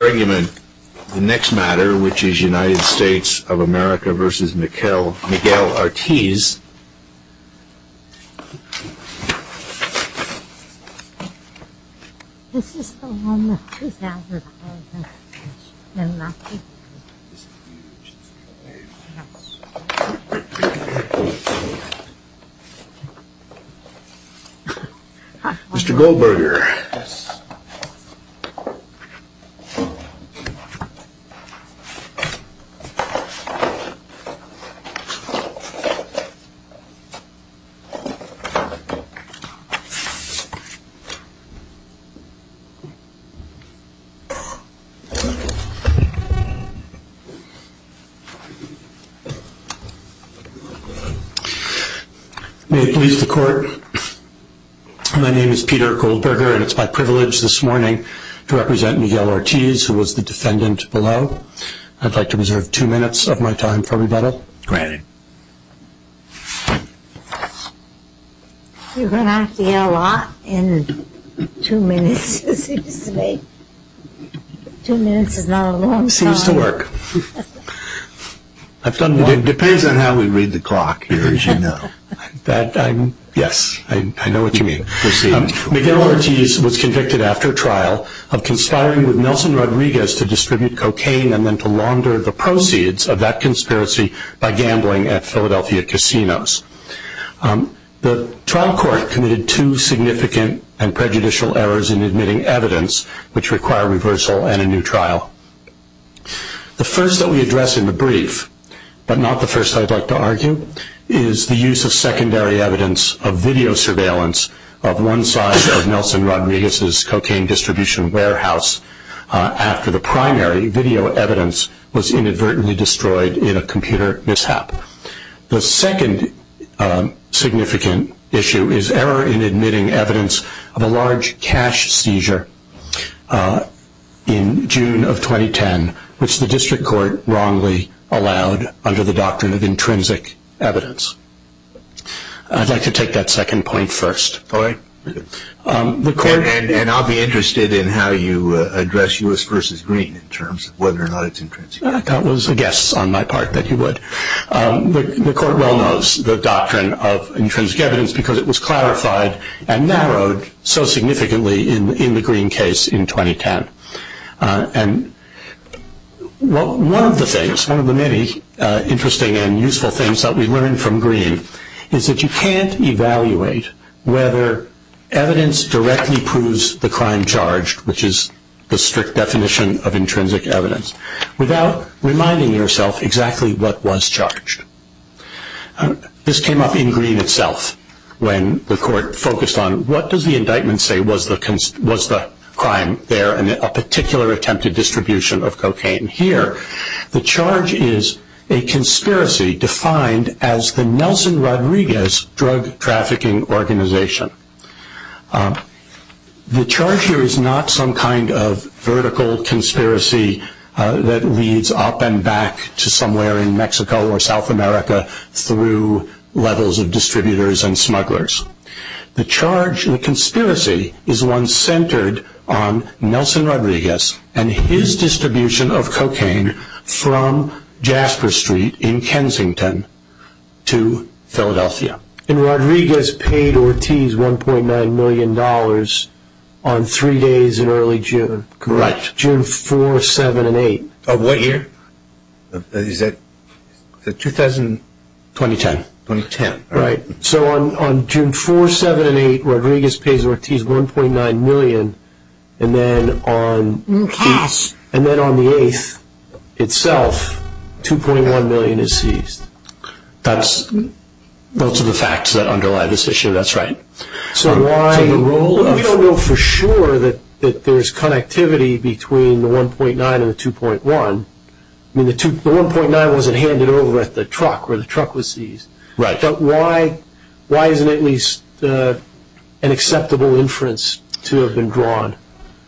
The next matter which is United States of America v. Miguel Ortiz. Mr. Goldberger May it please the court, my name is Peter Goldberger. And it's my privilege this morning to represent Miguel Ortiz, who was the defendant below. I'd like to reserve two minutes of my time for rebuttal. Go ahead. You're going to have to yell a lot in two minutes, it seems to me. Two minutes is not a long time. It seems to work. It depends on how we read the clock here, as you know. Yes, I know what you mean. Miguel Ortiz was convicted after trial of conspiring with Nelson Rodriguez to distribute cocaine and then to launder the proceeds of that conspiracy by gambling at Philadelphia casinos. The trial court committed two significant and prejudicial errors in admitting evidence, which require reversal and a new trial. The first that we address in the brief, but not the first I'd like to argue, is the use of secondary evidence of video surveillance of one side of Nelson Rodriguez's cocaine distribution warehouse after the primary video evidence was inadvertently destroyed in a computer mishap. The second significant issue is error in admitting evidence of a large cash seizure in June of 2010, which the district court wrongly allowed under the doctrine of intrinsic evidence. I'd like to take that second point first. All right. And I'll be interested in how you address U.S. v. Green in terms of whether or not it's intrinsic. I thought it was a guess on my part that you would. The court well knows the doctrine of intrinsic evidence because it was clarified and narrowed so significantly in the Green case in 2010. And one of the things, one of the many interesting and useful things that we learned from Green is that you can't evaluate whether evidence directly proves the crime charged, which is the strict definition of intrinsic evidence, without reminding yourself exactly what was charged. This came up in Green itself when the court focused on, what does the indictment say was the crime there in a particular attempted distribution of cocaine? Here, the charge is a conspiracy defined as the Nelson Rodriguez drug trafficking organization. The charge here is not some kind of vertical conspiracy that leads up and back to somewhere in Mexico or South America through levels of distributors and smugglers. The charge, the conspiracy is one centered on Nelson Rodriguez and his distribution of cocaine from Jasper Street in Kensington to Philadelphia. And Rodriguez paid Ortiz $1.9 million on three days in early June. Correct. June 4, 7, and 8. Of what year? Is that 2010? 2010. Right. So on June 4, 7, and 8, Rodriguez pays Ortiz $1.9 million. And then on the 8th itself, $2.1 million is seized. Those are the facts that underlie this issue. That's right. We don't know for sure that there's connectivity between the $1.9 and the $2.1. I mean, the $1.9 wasn't handed over at the truck where the truck was seized. Right. But why isn't at least an acceptable inference to have been drawn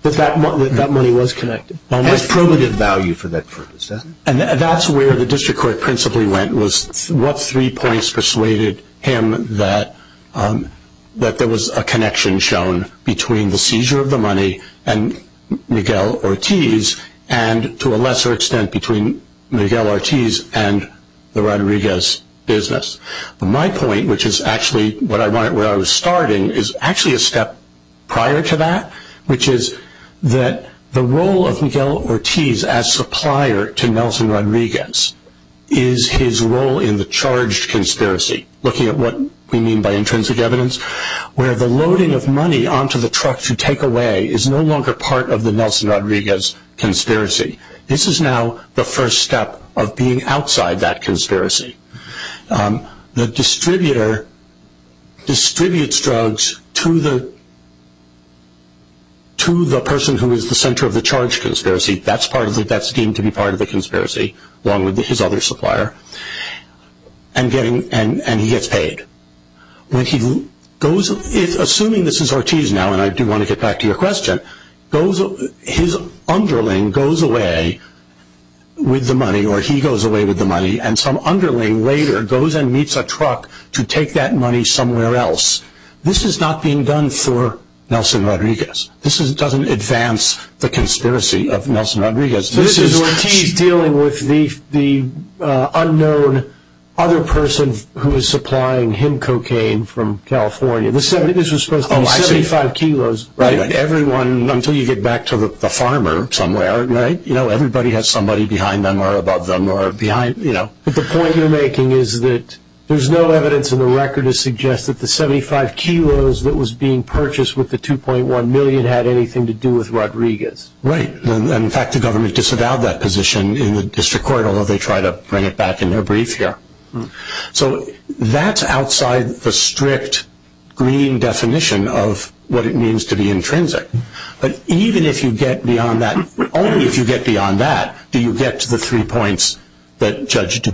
that that money was connected? It has primitive value for that purpose, doesn't it? And that's where the district court principally went was what three points persuaded him that there was a connection shown between the seizure of the money and Miguel Ortiz and to a lesser extent between Miguel Ortiz and the Rodriguez business. My point, which is actually where I was starting, is actually a step prior to that, which is that the role of Miguel Ortiz as supplier to Nelson Rodriguez is his role in the charged conspiracy, looking at what we mean by intrinsic evidence, where the loading of money onto the truck to take away is no longer part of the Nelson Rodriguez conspiracy. This is now the first step of being outside that conspiracy. The distributor distributes drugs to the person who is the center of the charged conspiracy. That's deemed to be part of the conspiracy, along with his other supplier, and he gets paid. Assuming this is Ortiz now, and I do want to get back to your question, his underling goes away with the money, or he goes away with the money, and some underling later goes and meets a truck to take that money somewhere else. This is not being done for Nelson Rodriguez. This is Ortiz dealing with the unknown other person who is supplying him cocaine from California. This was supposed to be 75 kilos. Until you get back to the farmer somewhere, everybody has somebody behind them or above them. But the point you're making is that there's no evidence in the record to suggest that the 75 kilos that was being purchased with the $2.1 million had anything to do with Rodriguez. Right. In fact, the government disavowed that position in the district court, although they try to bring it back in their brief here. So that's outside the strict green definition of what it means to be intrinsic. But even if you get beyond that, only if you get beyond that, do you get to the three points that Judge Du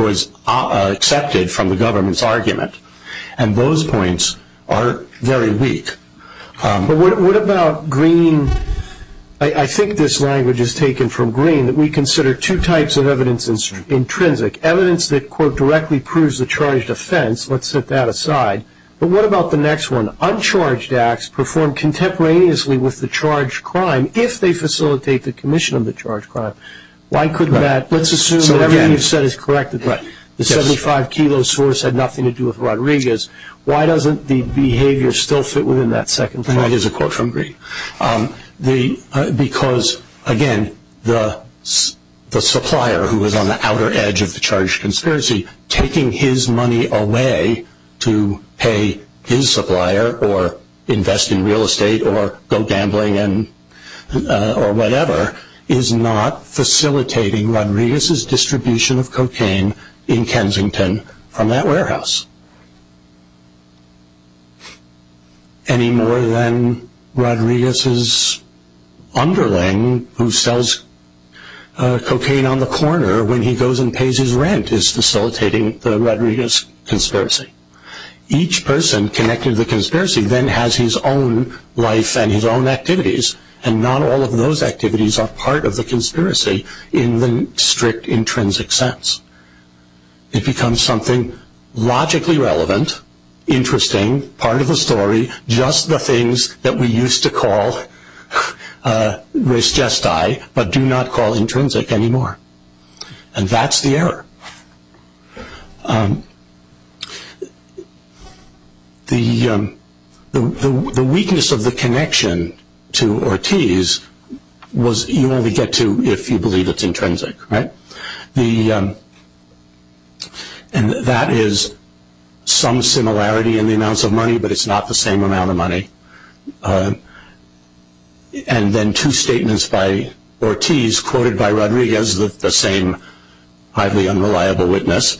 Bois accepted from the government's argument, and those points are very weak. But what about green? I think this language is taken from green, that we consider two types of evidence intrinsic. Evidence that, quote, directly proves the charged offense. Let's set that aside. But what about the next one? Uncharged acts performed contemporaneously with the charged crime if they facilitate the commission of the charged crime. Why couldn't that? Let's assume that everything you've said is correct. The 75 kilo source had nothing to do with Rodriguez. Why doesn't the behavior still fit within that second point? That is a quote from green. Because, again, the supplier, who is on the outer edge of the charged conspiracy, taking his money away to pay his supplier or invest in real estate or go gambling or whatever, is not facilitating Rodriguez's distribution of cocaine in Kensington from that warehouse. Any more than Rodriguez's underling, who sells cocaine on the corner when he goes and pays his rent, is facilitating the Rodriguez conspiracy. Each person connected to the conspiracy then has his own life and his own activities, and not all of those activities are part of the conspiracy in the strict intrinsic sense. It becomes something logically relevant, interesting, part of the story, just the things that we used to call res gestae but do not call intrinsic anymore. And that's the error. The weakness of the connection to Ortiz was you only get to if you believe it's intrinsic. And that is some similarity in the amounts of money, but it's not the same amount of money. And then two statements by Ortiz quoted by Rodriguez, the same highly unreliable witness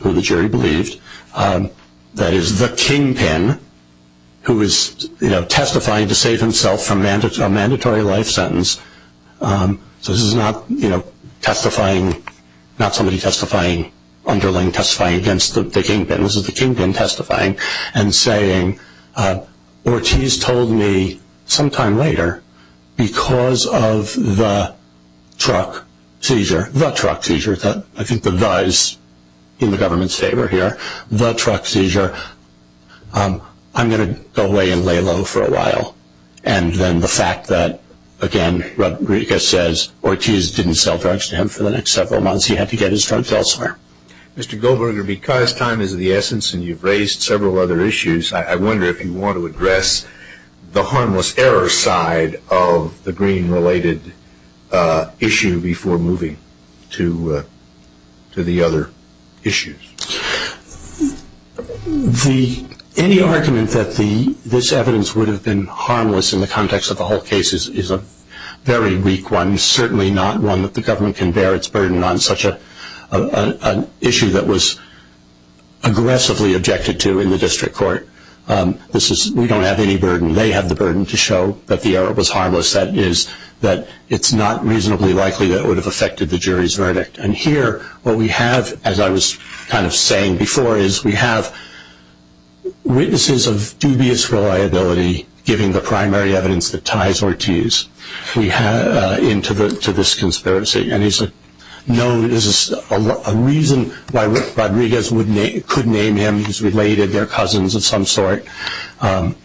who the jury believed, that is the kingpin who is testifying to save himself from a mandatory life sentence. So this is not somebody testifying, underling testifying against the kingpin. This is the kingpin testifying and saying Ortiz told me sometime later, because of the truck seizure, the truck seizure, I think the the is in the government's favor here, the truck seizure, I'm going to go away and lay low for a while. And then the fact that, again, Rodriguez says Ortiz didn't sell drugs to him for the next several months, he had to get his drugs elsewhere. Mr. Goldberger, because time is of the essence and you've raised several other issues, I wonder if you want to address the harmless error side of the Green-related issue before moving to the other issues. Any argument that this evidence would have been harmless in the context of the whole case is a very weak one, and certainly not one that the government can bear its burden on such an issue that was aggressively objected to in the district court. We don't have any burden. They have the burden to show that the error was harmless, that it's not reasonably likely that it would have affected the jury's verdict. And here what we have, as I was kind of saying before, is we have witnesses of dubious reliability giving the primary evidence that ties Ortiz. into this conspiracy. And there's a reason why Rodriguez could name him. He's related, they're cousins of some sort. And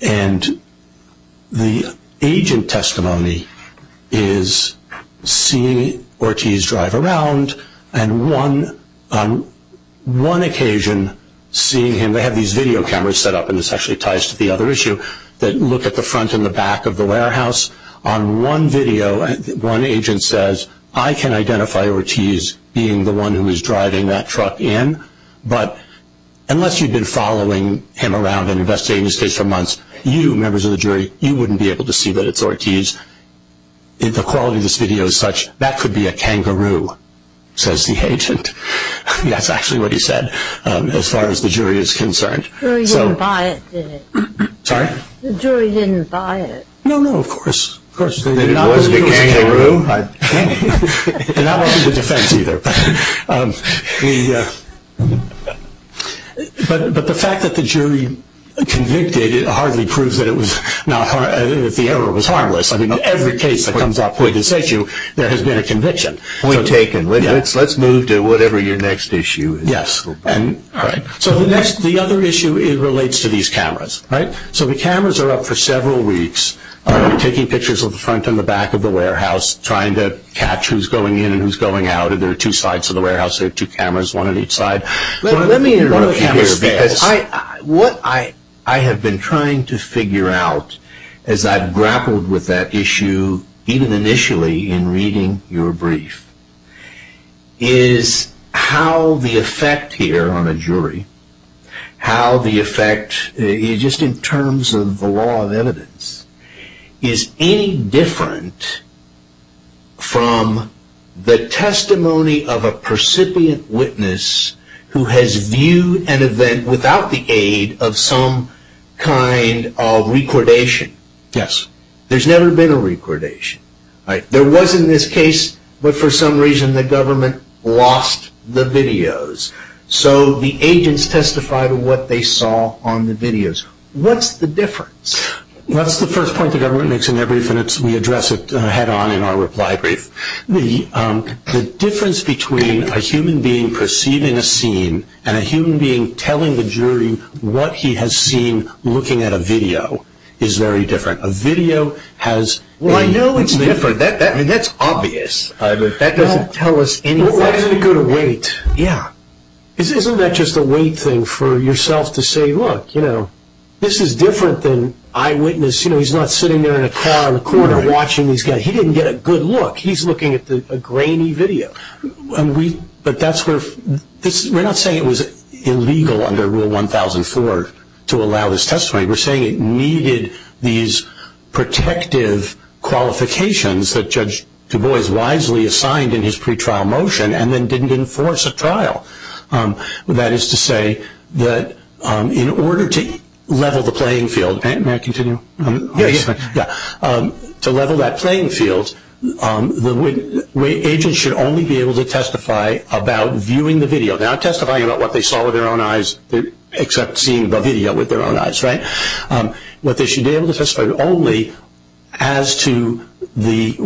the agent testimony is seeing Ortiz drive around and on one occasion seeing him. They have these video cameras set up, and this actually ties to the other issue, that look at the front and the back of the warehouse. On one video, one agent says, I can identify Ortiz being the one who is driving that truck in, but unless you've been following him around and investigating his case for months, you, members of the jury, you wouldn't be able to see that it's Ortiz. The quality of this video is such, that could be a kangaroo, says the agent. That's actually what he said as far as the jury is concerned. The jury didn't buy it, did it? Sorry? The jury didn't buy it. No, no, of course. It was the kangaroo. And not only the defense either. But the fact that the jury convicted hardly proves that the error was harmless. In every case that comes up with this issue, there has been a conviction. Let's move to whatever your next issue is. Yes. All right. So the next, the other issue relates to these cameras, right? So the cameras are up for several weeks, taking pictures of the front and the back of the warehouse, trying to catch who's going in and who's going out. There are two sides of the warehouse. There are two cameras, one on each side. Let me interrupt you here, because what I have been trying to figure out as I've grappled with that issue, even initially in reading your brief, is how the effect here on a jury, how the effect, just in terms of the law of evidence, is any different from the testimony of a percipient witness who has viewed an event without the aid of some kind of recordation. Yes. There's never been a recordation. There was in this case, but for some reason the government lost the videos. So the agents testified what they saw on the videos. What's the difference? That's the first point the government makes in their brief, and we address it head on in our reply brief. The difference between a human being perceiving a scene and a human being telling the jury what he has seen looking at a video is very different. Well, I know it's different. That's obvious. That doesn't tell us anything. Why doesn't it go to wait? Yeah. Isn't that just a wait thing for yourself to say, look, this is different than eyewitness. He's not sitting there in a car in the corner watching these guys. He didn't get a good look. He's looking at a grainy video. We're not saying it was illegal under Rule 1004 to allow this testimony. We're saying it needed these protective qualifications that Judge Du Bois wisely assigned in his pretrial motion and then didn't enforce a trial. That is to say that in order to level the playing field, to level that playing field, agents should only be able to testify about viewing the video. They're not testifying about what they saw with their own eyes, except seeing the video with their own eyes, right? But they should be able to testify only as to the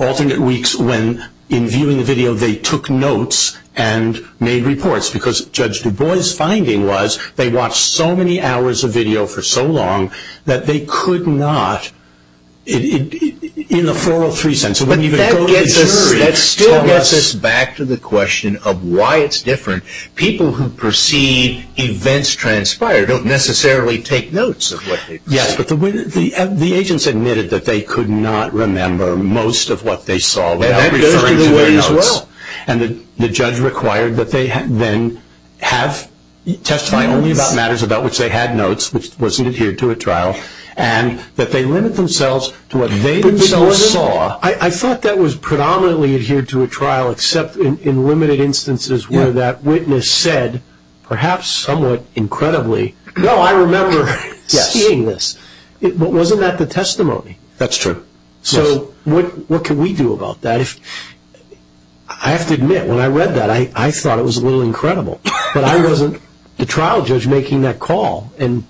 alternate weeks when in viewing the video they took notes and made reports because Judge Du Bois' finding was they watched so many hours of video for so long that they could not in a 403 sense. But that still gets us back to the question of why it's different. People who perceive events transpired don't necessarily take notes. Yes, but the agents admitted that they could not remember most of what they saw without referring to their notes. And the judge required that they then testify only about matters about which they had notes, which wasn't adhered to at trial, and that they limit themselves to what they themselves saw. I thought that was predominantly adhered to at trial, except in limited instances where that witness said, perhaps somewhat incredibly, no, I remember seeing this, but wasn't that the testimony? That's true. So what can we do about that? I have to admit, when I read that, I thought it was a little incredible, but I wasn't the trial judge making that call, and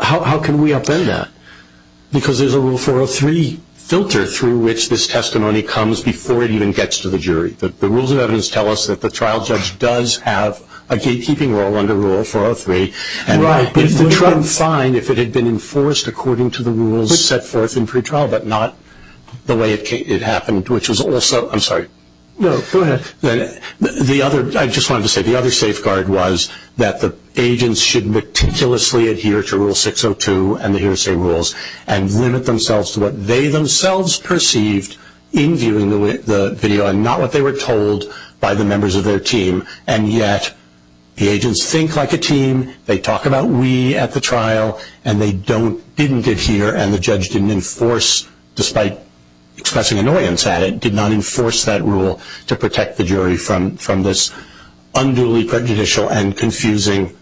how can we upend that? Because there's a Rule 403 filter through which this testimony comes before it even gets to the jury. The rules of evidence tell us that the trial judge does have a gatekeeping role under Rule 403. Right, but it would have been fine if it had been enforced according to the rules set forth in pretrial, but not the way it happened, which was also, I'm sorry. No, go ahead. I just wanted to say, the other safeguard was that the agents should meticulously adhere to Rule 602 and the hearsay rules and limit themselves to what they themselves perceived in viewing the video and not what they were told by the members of their team. And yet the agents think like a team, they talk about we at the trial, and they didn't adhere, and the judge didn't enforce, despite expressing annoyance at it, did not enforce that rule to protect the jury from this unduly prejudicial and confusing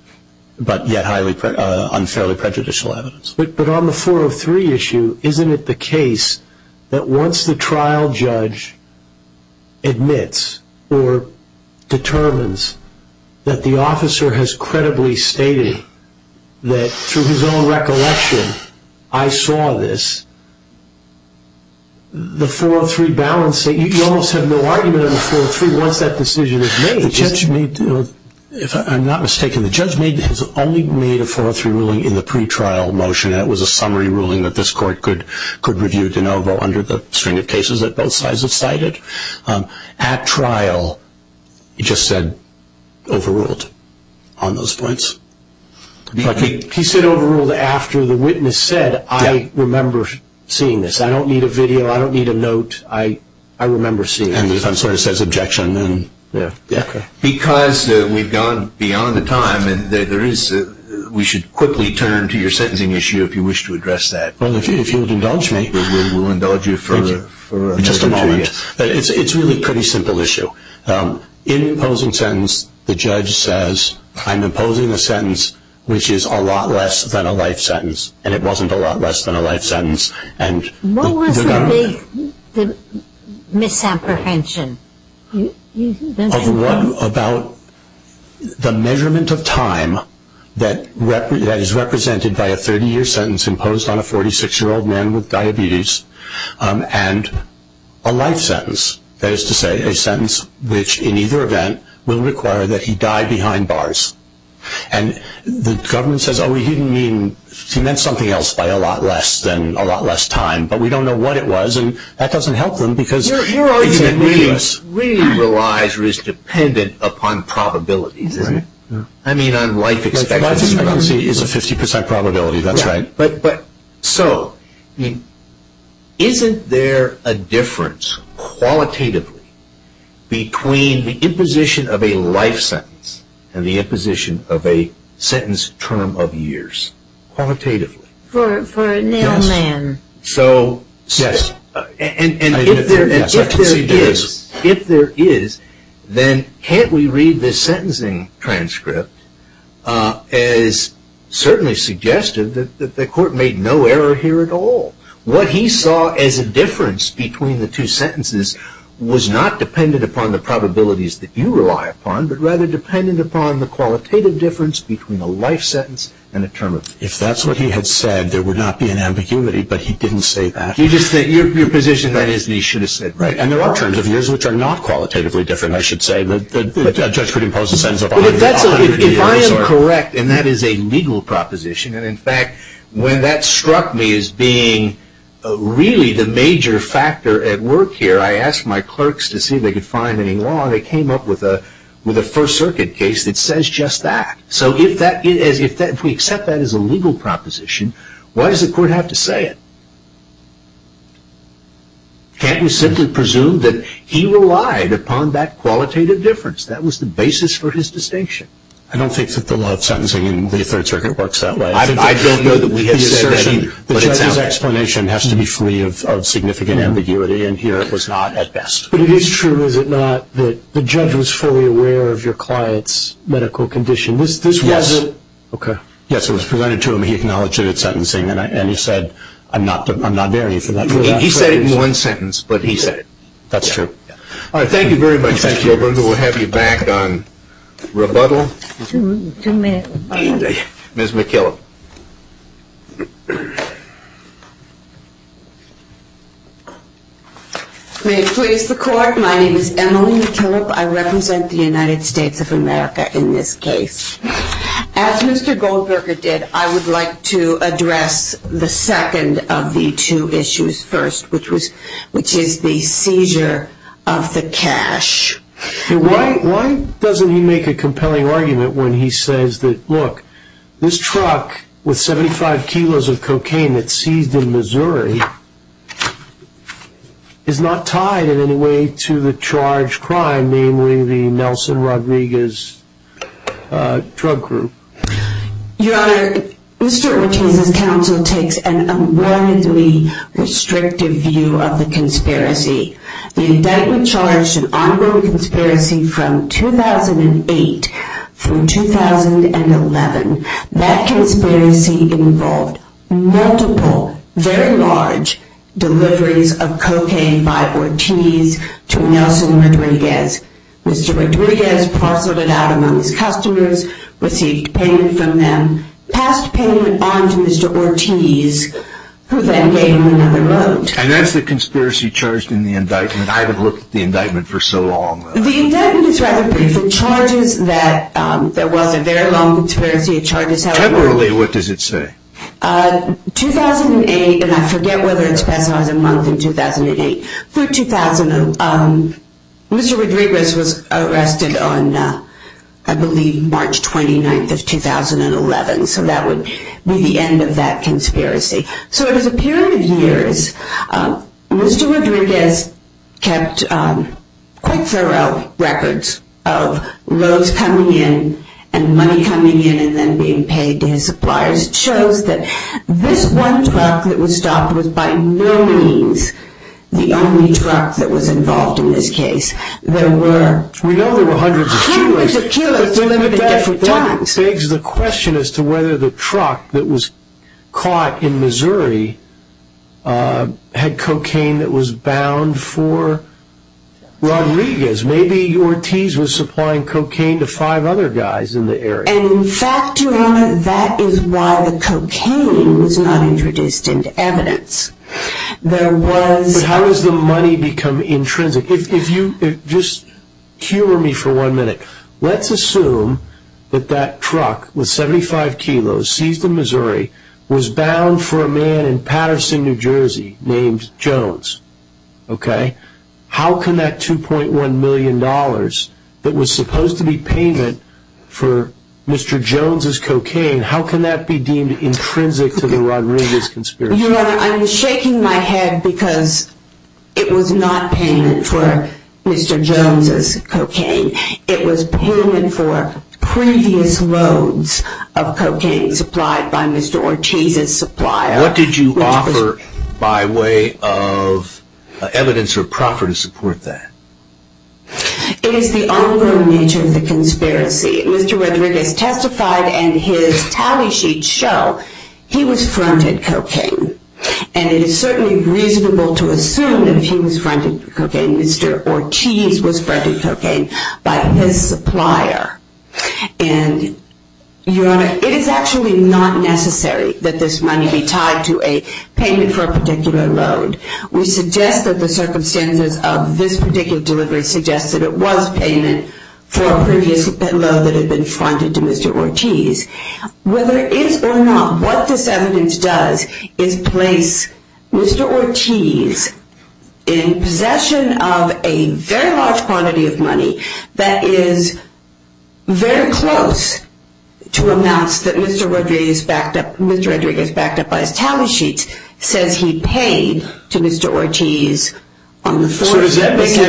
but yet unfairly prejudicial evidence. But on the 403 issue, isn't it the case that once the trial judge admits or determines that the officer has credibly stated that through his own recollection, I saw this, the 403 balance, you almost have no argument on the 403 once that decision is made. If I'm not mistaken, the judge has only made a 403 ruling in the pretrial motion, and it was a summary ruling that this court could review de novo under the string of cases that both sides have cited. At trial, he just said overruled on those points. He said overruled after the witness said, I remember seeing this. I don't need a video, I don't need a note, I remember seeing this. And the defense lawyer says objection. Because we've gone beyond the time, we should quickly turn to your sentencing issue if you wish to address that. Well, if you would indulge me. We will indulge you for a moment. It's really a pretty simple issue. In imposing sentence, the judge says, I'm imposing a sentence which is a lot less than a life sentence, and it wasn't a lot less than a life sentence. What was the big misapprehension? About the measurement of time that is represented by a 30-year sentence imposed on a 46-year-old man with diabetes, and a life sentence, that is to say, a sentence which in either event will require that he die behind bars. And the government says, oh, he didn't mean, he meant something else by a lot less than a lot less time, but we don't know what it was, and that doesn't help them because... Your argument really relies or is dependent upon probabilities, isn't it? I mean on life expectancy. Life expectancy is a 50% probability, that's right. So, isn't there a difference qualitatively between the imposition of a life sentence and the imposition of a sentence term of years? Qualitatively. For a male man. So, yes. And if there is, then can't we read this sentencing transcript as certainly suggested that the court made no error here at all. What he saw as a difference between the two sentences was not dependent upon the probabilities that you rely upon, but rather dependent upon the qualitative difference between a life sentence and a term of years. If that's what he had said, there would not be an ambiguity, but he didn't say that. You just think, your position is that he should have said that. And there are terms of years which are not qualitatively different, I should say, that a judge could impose a sentence of a hundred years. If I am correct, and that is a legal proposition, and in fact when that struck me as being really the major factor at work here, I asked my clerks to see if they could find any law and they came up with a First Circuit case that says just that. So, if we accept that as a legal proposition, why does the court have to say it? Can't we simply presume that he relied upon that qualitative difference? That was the basis for his distinction. I don't think that the law of sentencing in the Third Circuit works that way. I don't know that we have said that. The judge's explanation has to be free of significant ambiguity, and here it was not at best. But it is true, is it not, that the judge was fully aware of your client's medical condition? Yes. Okay. Yes, it was presented to him. He acknowledged that it was sentencing, and he said, I'm not varying from that. He said it in one sentence, but he said it. That's true. All right. Thank you very much, Mr. Goldberger. We'll have you back on rebuttal. Two minutes. Ms. McKillop. May it please the Court, my name is Emily McKillop. I represent the United States of America in this case. As Mr. Goldberger did, I would like to address the second of the two issues first, which is the seizure of the cash. Why doesn't he make a compelling argument when he says that, look, this truck with 75 kilos of cocaine that's seized in Missouri is not tied in any way to the charged crime, namely the Nelson Rodriguez drug group? Your Honor, Mr. Ortiz's counsel takes an unwarrantedly restrictive view of the conspiracy. The indictment charged an ongoing conspiracy from 2008 through 2011. That conspiracy involved multiple, very large deliveries of cocaine by Ortiz to Nelson Rodriguez. Mr. Rodriguez parceled it out among his customers, received payment from them, passed payment on to Mr. Ortiz, who then gave him another load. And that's the conspiracy charged in the indictment? I haven't looked at the indictment for so long. The indictment is rather brief. It charges that there was a very long conspiracy. Temporarily, what does it say? 2008, and I forget whether it's specified as a month in 2008. Through 2000, Mr. Rodriguez was arrested on, I believe, March 29th of 2011. So that would be the end of that conspiracy. So it is a period of years. Mr. Rodriguez kept quite thorough records of loads coming in and money coming in and then being paid to his suppliers. It shows that this one truck that was stopped was by no means the only truck that was involved in this case. There were hundreds of kilos delivered at different times. It begs the question as to whether the truck that was caught in Missouri had cocaine that was bound for Rodriguez. Maybe Ortiz was supplying cocaine to five other guys in the area. And in fact, Your Honor, that is why the cocaine was not introduced into evidence. But how does the money become intrinsic? Just humor me for one minute. Let's assume that that truck with 75 kilos seized in Missouri was bound for a man in Patterson, New Jersey, named Jones. Okay? How can that $2.1 million that was supposed to be payment for Mr. Jones' cocaine, how can that be deemed intrinsic to the Rodriguez conspiracy? Your Honor, I'm shaking my head because it was not payment for Mr. Jones' cocaine. It was payment for previous loads of cocaine supplied by Mr. Ortiz's supplier. What did you offer by way of evidence or proffer to support that? It is the ongoing nature of the conspiracy. Mr. Rodriguez testified and his tally sheets show he was fronted cocaine. And it is certainly reasonable to assume that he was fronted cocaine. Mr. Ortiz was fronted cocaine by his supplier. And, Your Honor, it is actually not necessary that this money be tied to a payment for a particular load. We suggest that the circumstances of this particular delivery suggest that it was payment for a previous load that had been fronted to Mr. Ortiz. Whether it is or not, what this evidence does is place Mr. Ortiz in possession of a very large quantity of money that is very close to amounts that Mr. Rodriguez backed up by his tally sheets says he paid to Mr. Ortiz on the 4th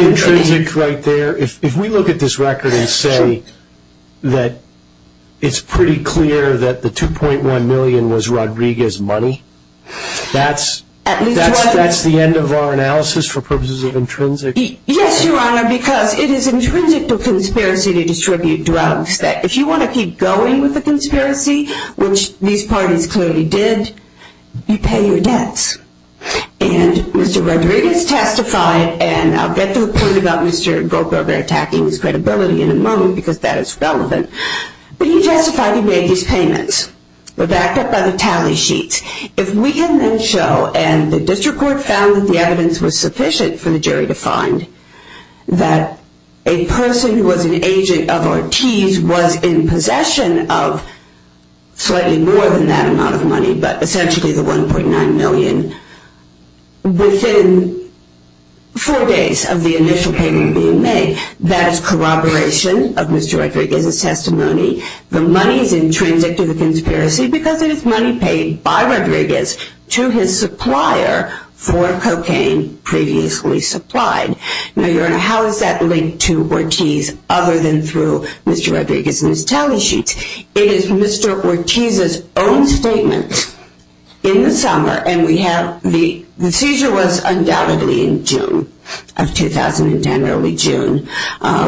of December. If we look at this record and say that it's pretty clear that the $2.1 million was Rodriguez's money, that's the end of our analysis for purposes of intrinsic... Yes, Your Honor, because it is intrinsic to conspiracy to distribute drugs that if you want to keep going with the conspiracy, which these parties clearly did, you pay your debts. And Mr. Rodriguez testified, and I'll get to the point about Mr. Goldberger attacking his credibility in a moment because that is relevant, but he testified he made these payments. They're backed up by the tally sheets. If we can then show, and the district court found that the evidence was sufficient for the jury to find, that a person who was an agent of Ortiz was in possession of slightly more than that amount of money, but essentially the $1.9 million, within four days of the initial payment being made, that is corroboration of Mr. Rodriguez's testimony. The money is intrinsic to the conspiracy because it is money paid by Rodriguez to his supplier for cocaine previously supplied. Now, Your Honor, how is that linked to Ortiz other than through Mr. Rodriguez and his tally sheets? It is Mr. Ortiz's own statement in the summer, and the seizure was undoubtedly in June of 2010, early June.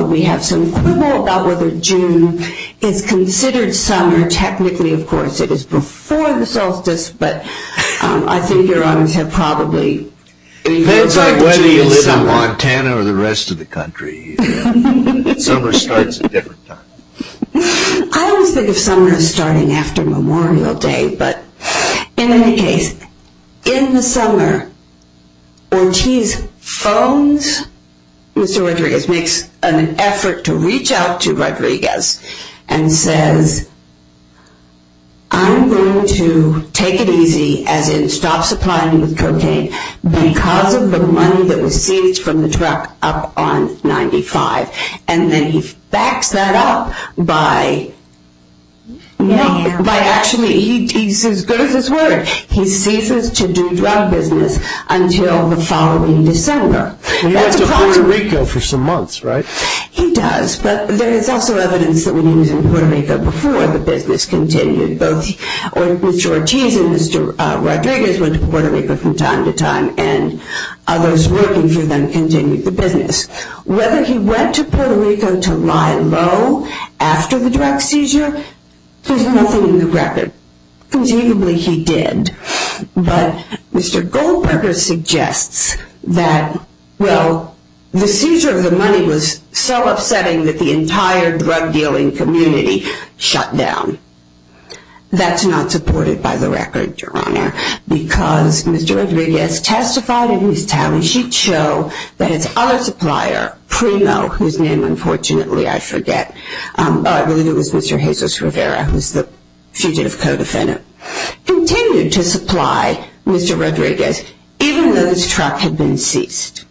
We have some quibble about whether June is considered summer. Technically, of course, it is before the solstice, but I think Your Honors have probably... It depends on whether you live in Montana or the rest of the country. Summer starts a different time. I always think of summer as starting after Memorial Day, but in any case, in the summer, Ortiz phones Mr. Rodriguez, makes an effort to reach out to Rodriguez, and says, I'm going to take it easy, as in stop supplying me with cocaine, because of the money that was seized from the truck up on 95. And then he backs that up by... By actually, he's as good as his word. He ceases to do drug business until the following December. He went to Puerto Rico for some months, right? He does, but there is also evidence that when he was in Puerto Rico before the business continued, both Mr. Ortiz and Mr. Rodriguez went to Puerto Rico from time to time, and others working for them continued the business. Whether he went to Puerto Rico to lie low after the drug seizure, there's nothing in the record. Conceivably, he did, but Mr. Goldberger suggests that, well, the seizure of the money was so upsetting that the entire drug dealing community shut down. That's not supported by the record, Your Honor, because Mr. Rodriguez testified in his tally sheet show that his other supplier, Primo, whose name unfortunately I forget, oh, I believe it was Mr. Jesus Rivera, who's the fugitive co-defendant, continued to supply Mr. Rodriguez, even though this truck had been ceased.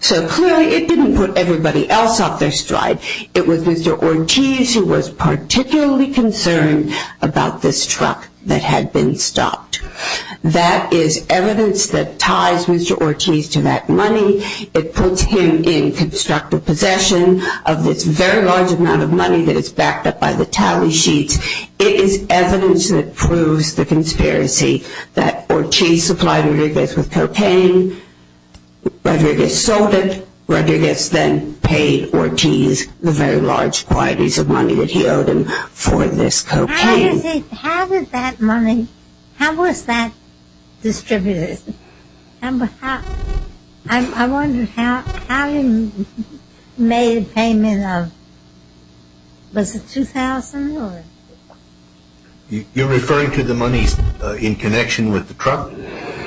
So clearly, it didn't put everybody else off their stride. It was Mr. Ortiz who was particularly concerned about this truck that had been stopped. That is evidence that ties Mr. Ortiz to that money. It puts him in constructive possession of this very large amount of money that is backed up by the tally sheet. It is evidence that proves the conspiracy that Ortiz supplied Rodriguez with cocaine. Rodriguez sold it. Rodriguez then paid Ortiz the very large quantities of money that he owed him for this cocaine. How did that money, how was that distributed? I wonder how he made a payment of, was it $2,000? You're referring to the money in connection with the truck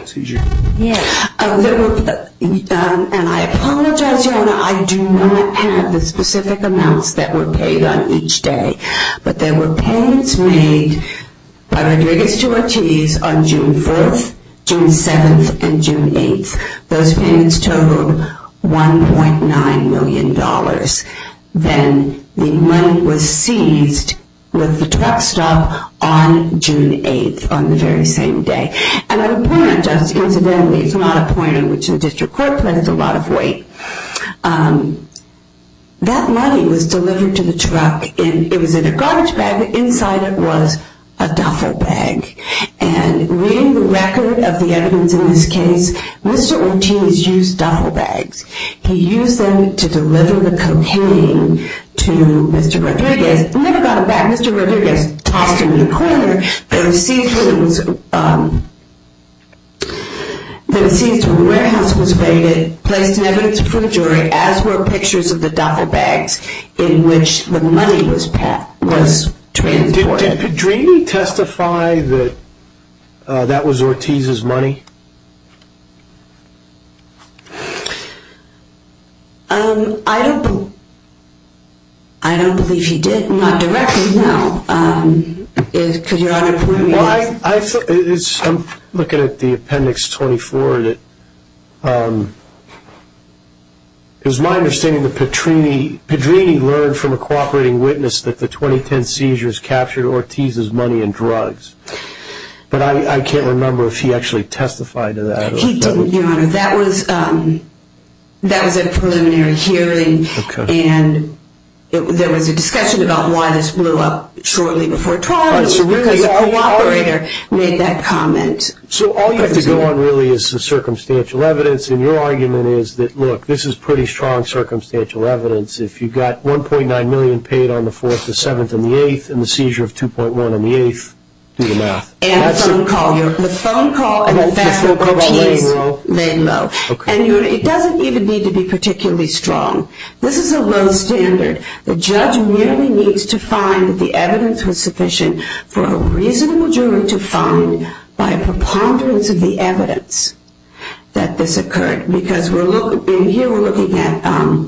seizure? Yes. And I apologize, Your Honor, I do not have the specific amounts that were paid on each day. But there were payments made by Rodriguez to Ortiz on June 4th, June 7th, and June 8th. Those payments totaled $1.9 million. Then the money was seized with the truck stop on June 8th, on the very same day. And I would point out, just incidentally, it's not a point on which the district court placed a lot of weight. That money was delivered to the truck. It was in a garbage bag, but inside it was a duffel bag. And reading the record of the evidence in this case, Mr. Ortiz used duffel bags. He used them to deliver the cocaine to Mr. Rodriguez. He never got it back. Mr. Rodriguez tossed him in the corner. The seized warehouse was raided, placed in evidence before a jury, as were pictures of the duffel bags in which the money was transported. Did Drini testify that that was Ortiz's money? I don't believe he did. Not directly, no. I'm looking at the appendix 24. It's my understanding that Drini learned from a cooperating witness that the 2010 seizures captured Ortiz's money and drugs. But I can't remember if he actually testified to that. He didn't, Your Honor. That was a preliminary hearing. There was a discussion about why this blew up shortly before trial. It was because a cooperator made that comment. So all you have to go on, really, is the circumstantial evidence. And your argument is that, look, this is pretty strong circumstantial evidence. If you've got $1.9 million paid on the 4th, the 7th, and the 8th, and the seizure of $2.1 million on the 8th, do the math. And the phone call. The phone call and the fact that Ortiz made. And the phone call made in Mo. Made in Mo. And it doesn't even need to be particularly strong. This is a low standard. The judge merely needs to find that the evidence was sufficient for a reasonable jury to find, by a preponderance of the evidence, that this occurred. Because in here we're looking at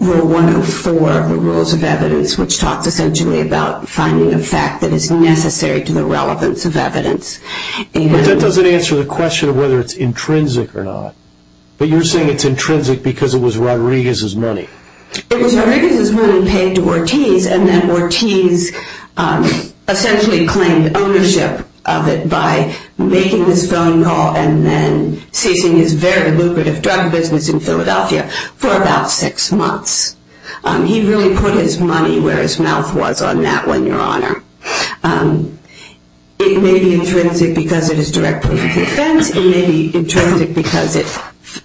Rule 104 of the Rules of Evidence, which talks essentially about finding a fact that is necessary to the relevance of evidence. But that doesn't answer the question of whether it's intrinsic or not. But you're saying it's intrinsic because it was Rodriguez's money. It was Rodriguez's money paid to Ortiz, and then Ortiz essentially claimed ownership of it by making this phone call and then ceasing his very lucrative drug business in Philadelphia for about six months. He really put his money where his mouth was on that one, Your Honor. It may be intrinsic because it is directly to defense. It may be intrinsic because it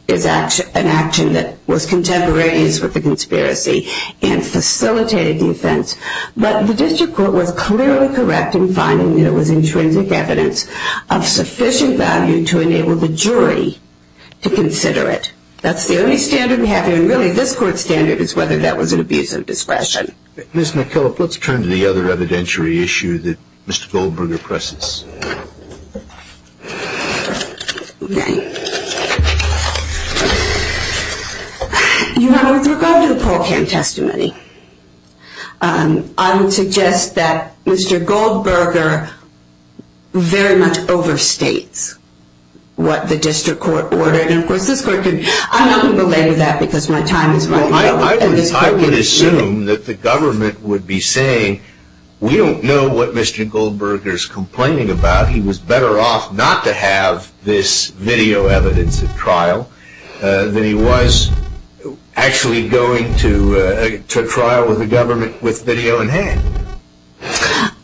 is an action that was contemporaneous with the conspiracy and facilitated the offense. But the district court was clearly correct in finding that it was intrinsic evidence of sufficient value to enable the jury to consider it. That's the only standard we have here, and really this court's standard is whether that was an abuse of discretion. Ms. McKillop, let's turn to the other evidentiary issue that Mr. Goldberger presses. Okay. Your Honor, with regard to the Paul Kim testimony, I would suggest that Mr. Goldberger very much overstates what the district court ordered. And, of course, I'm not going to belabor that because my time is running out. I would assume that the government would be saying, we don't know what Mr. Goldberger is complaining about. He was better off not to have this video evidence at trial than he was actually going to trial with the government with video in hand.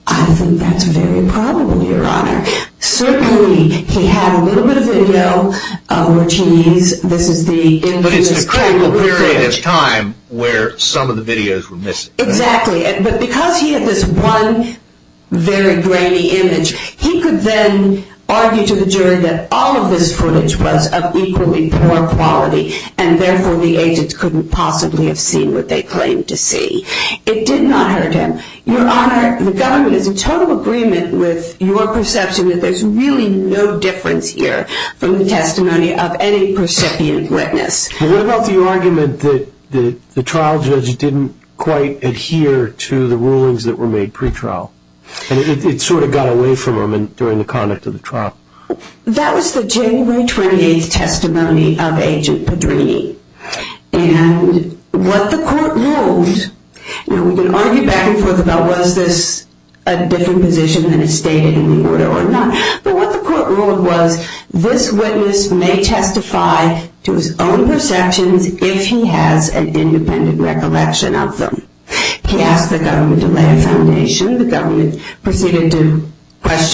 I think that's very probable, Your Honor. Certainly he had a little bit of video, which he needs. But it's the critical period of time where some of the videos were missing. Exactly. But because he had this one very grainy image, he could then argue to the jury that all of this footage was of equally poor quality, and therefore the agents couldn't possibly have seen what they claimed to see. It did not hurt him. Your Honor, the government is in total agreement with your perception that there's really no difference here from the testimony of any percipient witness. What about the argument that the trial judge didn't quite adhere to the rulings that were made pretrial, and it sort of got away from him during the conduct of the trial? That was the January 28th testimony of Agent Pedrini. And what the court ruled, we can argue back and forth about, was this a different position than it stated in the order or not? But what the court ruled was this witness may testify to his own perceptions if he has an independent recollection of them. He asked the government to lay a foundation. The government proceeded to ask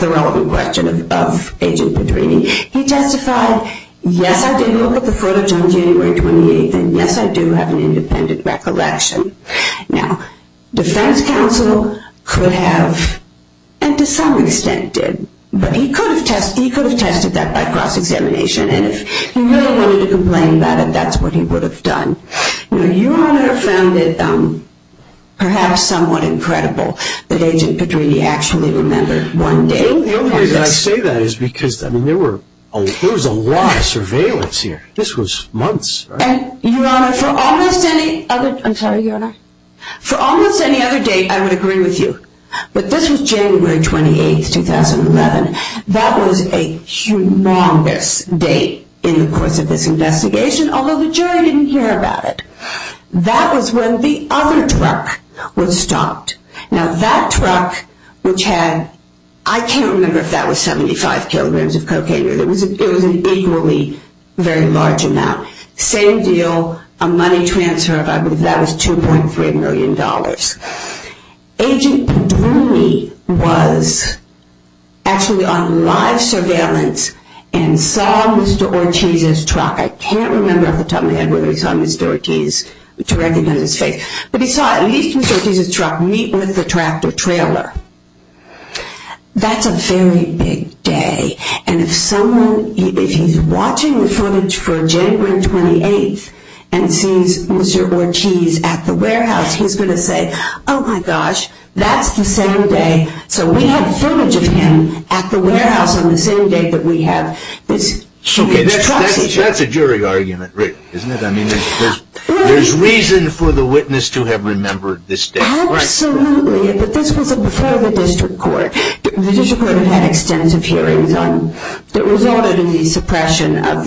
the relevant question of Agent Pedrini. He testified, yes, I did look at the footage on January 28th, and yes, I do have an independent recollection. Now, defense counsel could have, and to some extent did, but he could have tested that by cross-examination, and if he really wanted to complain about it, that's what he would have done. Your Honor found it perhaps somewhat incredible that Agent Pedrini actually remembered one day. The only reason I say that is because there was a lot of surveillance here. This was months. Your Honor, for almost any other date, I would agree with you, but this was January 28th, 2011. That was a humongous date in the course of this investigation, although the jury didn't hear about it. That was when the other truck was stopped. Now, that truck, which had, I can't remember if that was 75 kilograms of cocaine, it was an equally very large amount. Same deal, a money transfer of, I believe that was $2.3 million. Agent Pedrini was actually on live surveillance and saw Mr. Ortiz's truck. I can't remember off the top of my head whether he saw Mr. Ortiz to recognize his face, but he saw at least Mr. Ortiz's truck meet with the tractor trailer. That's a very big day, and if someone, if he's watching the footage for January 28th and sees Mr. Ortiz at the warehouse, he's going to say, oh my gosh, that's the same day, so we have footage of him at the warehouse on the same day that we have this huge truck. Okay, that's a jury argument, Rick, isn't it? I mean, there's reason for the witness to have remembered this date. Absolutely, but this was before the district court. The district court had extensive hearings that resulted in the suppression of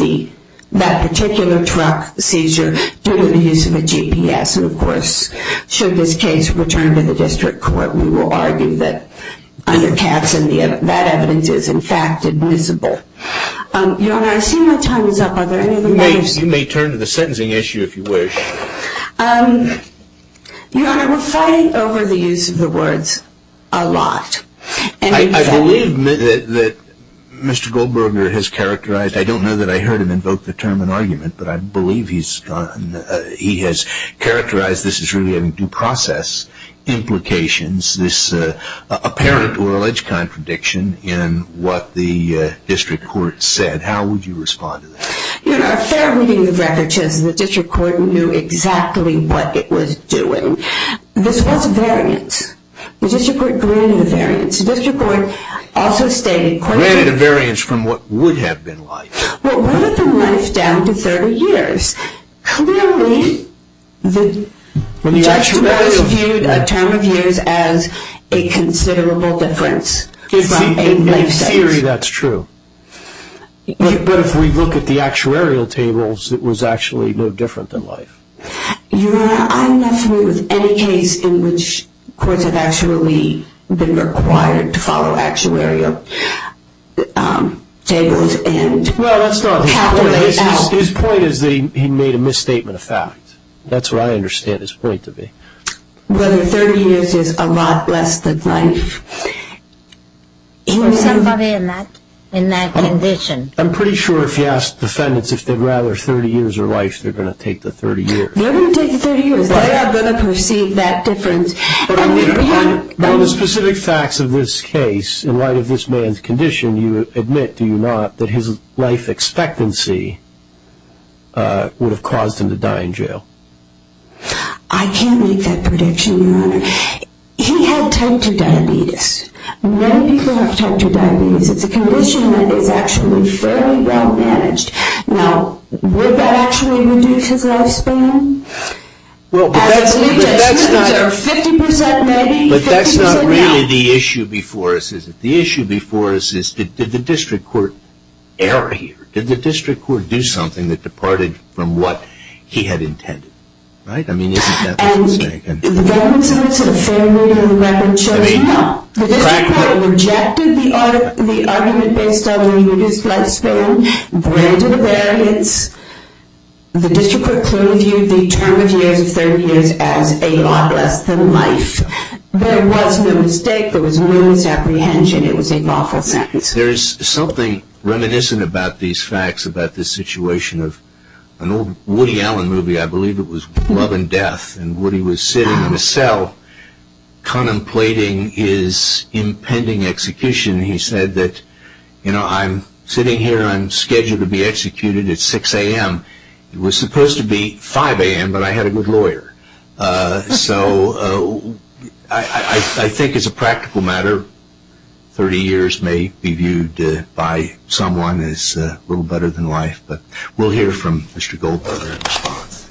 that particular truck seizure due to the use of a GPS, and of course, should this case return to the district court, we will argue that that evidence is in fact admissible. Your Honor, I see my time is up. Are there any other matters? Your Honor, we're fighting over the use of the words a lot. I believe that Mr. Goldberger has characterized, I don't know that I heard him invoke the term an argument, but I believe he has characterized this as really having due process implications, this apparent or alleged contradiction in what the district court said. How would you respond to that? Your Honor, a fair reading of records shows that the district court knew exactly what it was doing. This was a variance. The district court granted a variance. The district court also stated… Granted a variance from what would have been life. Well, what if the life down to 30 years? Clearly, the judge devised a term of use as a considerable difference from a life sentence. In theory, that's true. But if we look at the actuarial tables, it was actually no different than life. Your Honor, I'm not familiar with any case in which courts have actually been required to follow actuarial tables. His point is that he made a misstatement of fact. That's what I understand his point to be. Whether 30 years is a lot less than life. For somebody in that condition. I'm pretty sure if you ask defendants if they'd rather 30 years or life, they're going to take the 30 years. They're going to take the 30 years. They are going to perceive that difference. But on the specific facts of this case, in light of this man's condition, do you admit, do you not, that his life expectancy would have caused him to die in jail? I can't make that prediction, Your Honor. He had type 2 diabetes. Many people have type 2 diabetes. It's a condition that is actually fairly well managed. Now, would that actually reduce his lifespan? Well, but that's not really the issue before us, is it? The issue before us is did the district court err here? Did the district court do something that departed from what he had intended? Right? I mean, isn't that what you're saying? And the government's answer to the fair reading of the record shows no. The district court rejected the argument based on the reduced lifespan, branded a variance. The district court clearly viewed the term of years of 30 years as a lot less than life. There was no mistake. There was no misapprehension. It was a lawful sentence. There is something reminiscent about these facts, about this situation of an old Woody Allen movie, I believe it was Love and Death, and Woody was sitting in a cell contemplating his impending execution. He said that, you know, I'm sitting here, I'm scheduled to be executed at 6 a.m. It was supposed to be 5 a.m., but I had a good lawyer. So I think as a practical matter, 30 years may be viewed by someone as a little better than life, but we'll hear from Mr. Goldberger in response.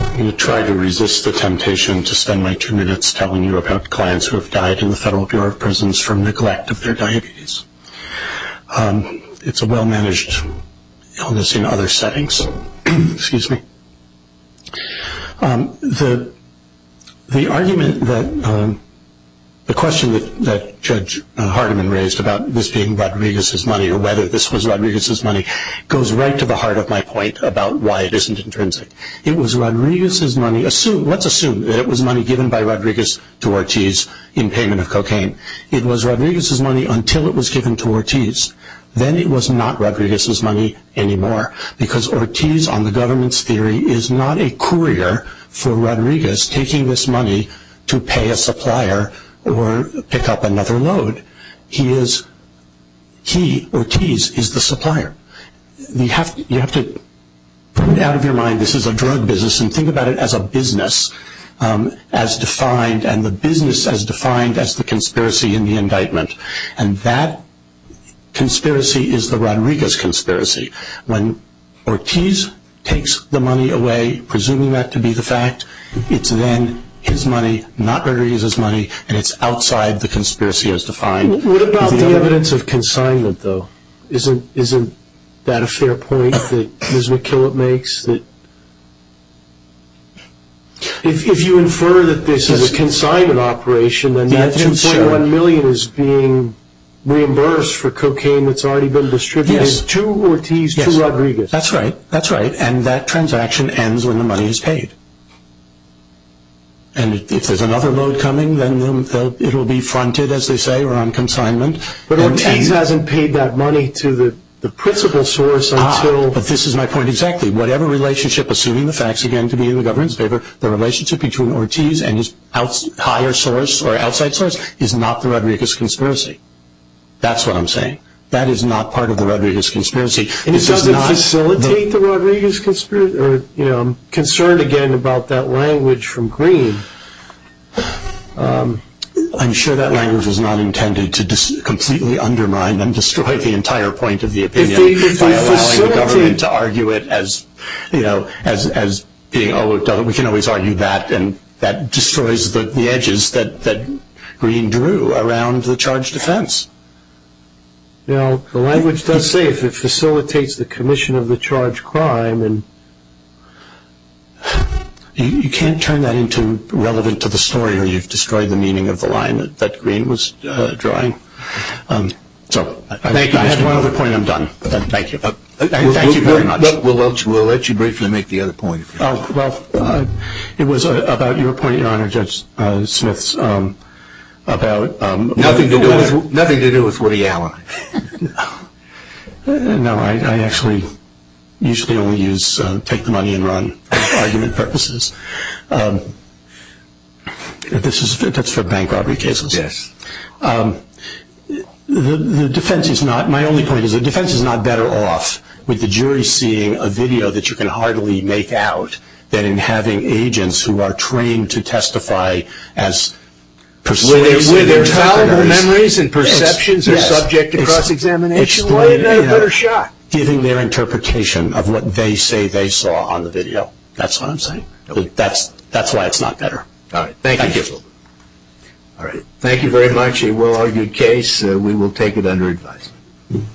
I'm going to try to resist the temptation to spend my two minutes telling you about clients who have died in the Federal Bureau of Prisons from neglect of their diabetes. It's a well-managed illness in other settings. The question that Judge Hardeman raised about this being Rodriguez's money, or whether this was Rodriguez's money, goes right to the heart of my point about why it isn't intrinsic. Let's assume that it was money given by Rodriguez to Ortiz in payment of cocaine. It was Rodriguez's money until it was given to Ortiz. Then it was not Rodriguez's money anymore because Ortiz, on the government's theory, is not a courier for Rodriguez taking this money to pay a supplier or pick up another load. He, Ortiz, is the supplier. You have to put it out of your mind this is a drug business and think about it as a business as defined, and the business as defined as the conspiracy and the indictment. And that conspiracy is the Rodriguez conspiracy. When Ortiz takes the money away, presuming that to be the fact, it's then his money, not Rodriguez's money, and it's outside the conspiracy as defined. What about the evidence of consignment, though? Isn't that a fair point that Ms. McKillop makes? If you infer that this is a consignment operation, then $2.1 million is being reimbursed for cocaine that's already been distributed to Ortiz to Rodriguez. Yes, that's right. That's right, and that transaction ends when the money is paid. And if there's another load coming, then it will be fronted, as they say, around consignment. But Ortiz hasn't paid that money to the principal source until... But this is my point exactly. Whatever relationship, assuming the facts again to be in the government's favor, the relationship between Ortiz and his higher source or outside source is not the Rodriguez conspiracy. That's what I'm saying. That is not part of the Rodriguez conspiracy. And it doesn't facilitate the Rodriguez conspiracy? I'm concerned again about that language from Green. I'm sure that language was not intended to completely undermine and destroy the entire point of the opinion. By allowing the government to argue it as being, oh, we can always argue that, and that destroys the edges that Green drew around the charge defense. Now, the language does say if it facilitates the commission of the charge crime and... You can't turn that into relevant to the story or you've destroyed the meaning of the line that Green was drawing. So I think I have one other point and I'm done. Thank you. Thank you very much. We'll let you briefly make the other point. Well, it was about your point, Your Honor, Judge Smith, about... Nothing to do with Woody Allen. No, I actually usually only use take the money and run argument purposes. That's for bank robbery cases. Yes. The defense is not... My only point is the defense is not better off with the jury seeing a video that you can hardly make out than in having agents who are trained to testify as persuasive... With their terrible memories and perceptions are subject to cross-examination. Why not a better shot? Giving their interpretation of what they say they saw on the video. That's what I'm saying. That's why it's not better. All right. Thank you. All right. Thank you very much. A well-argued case. We will take it under advisement.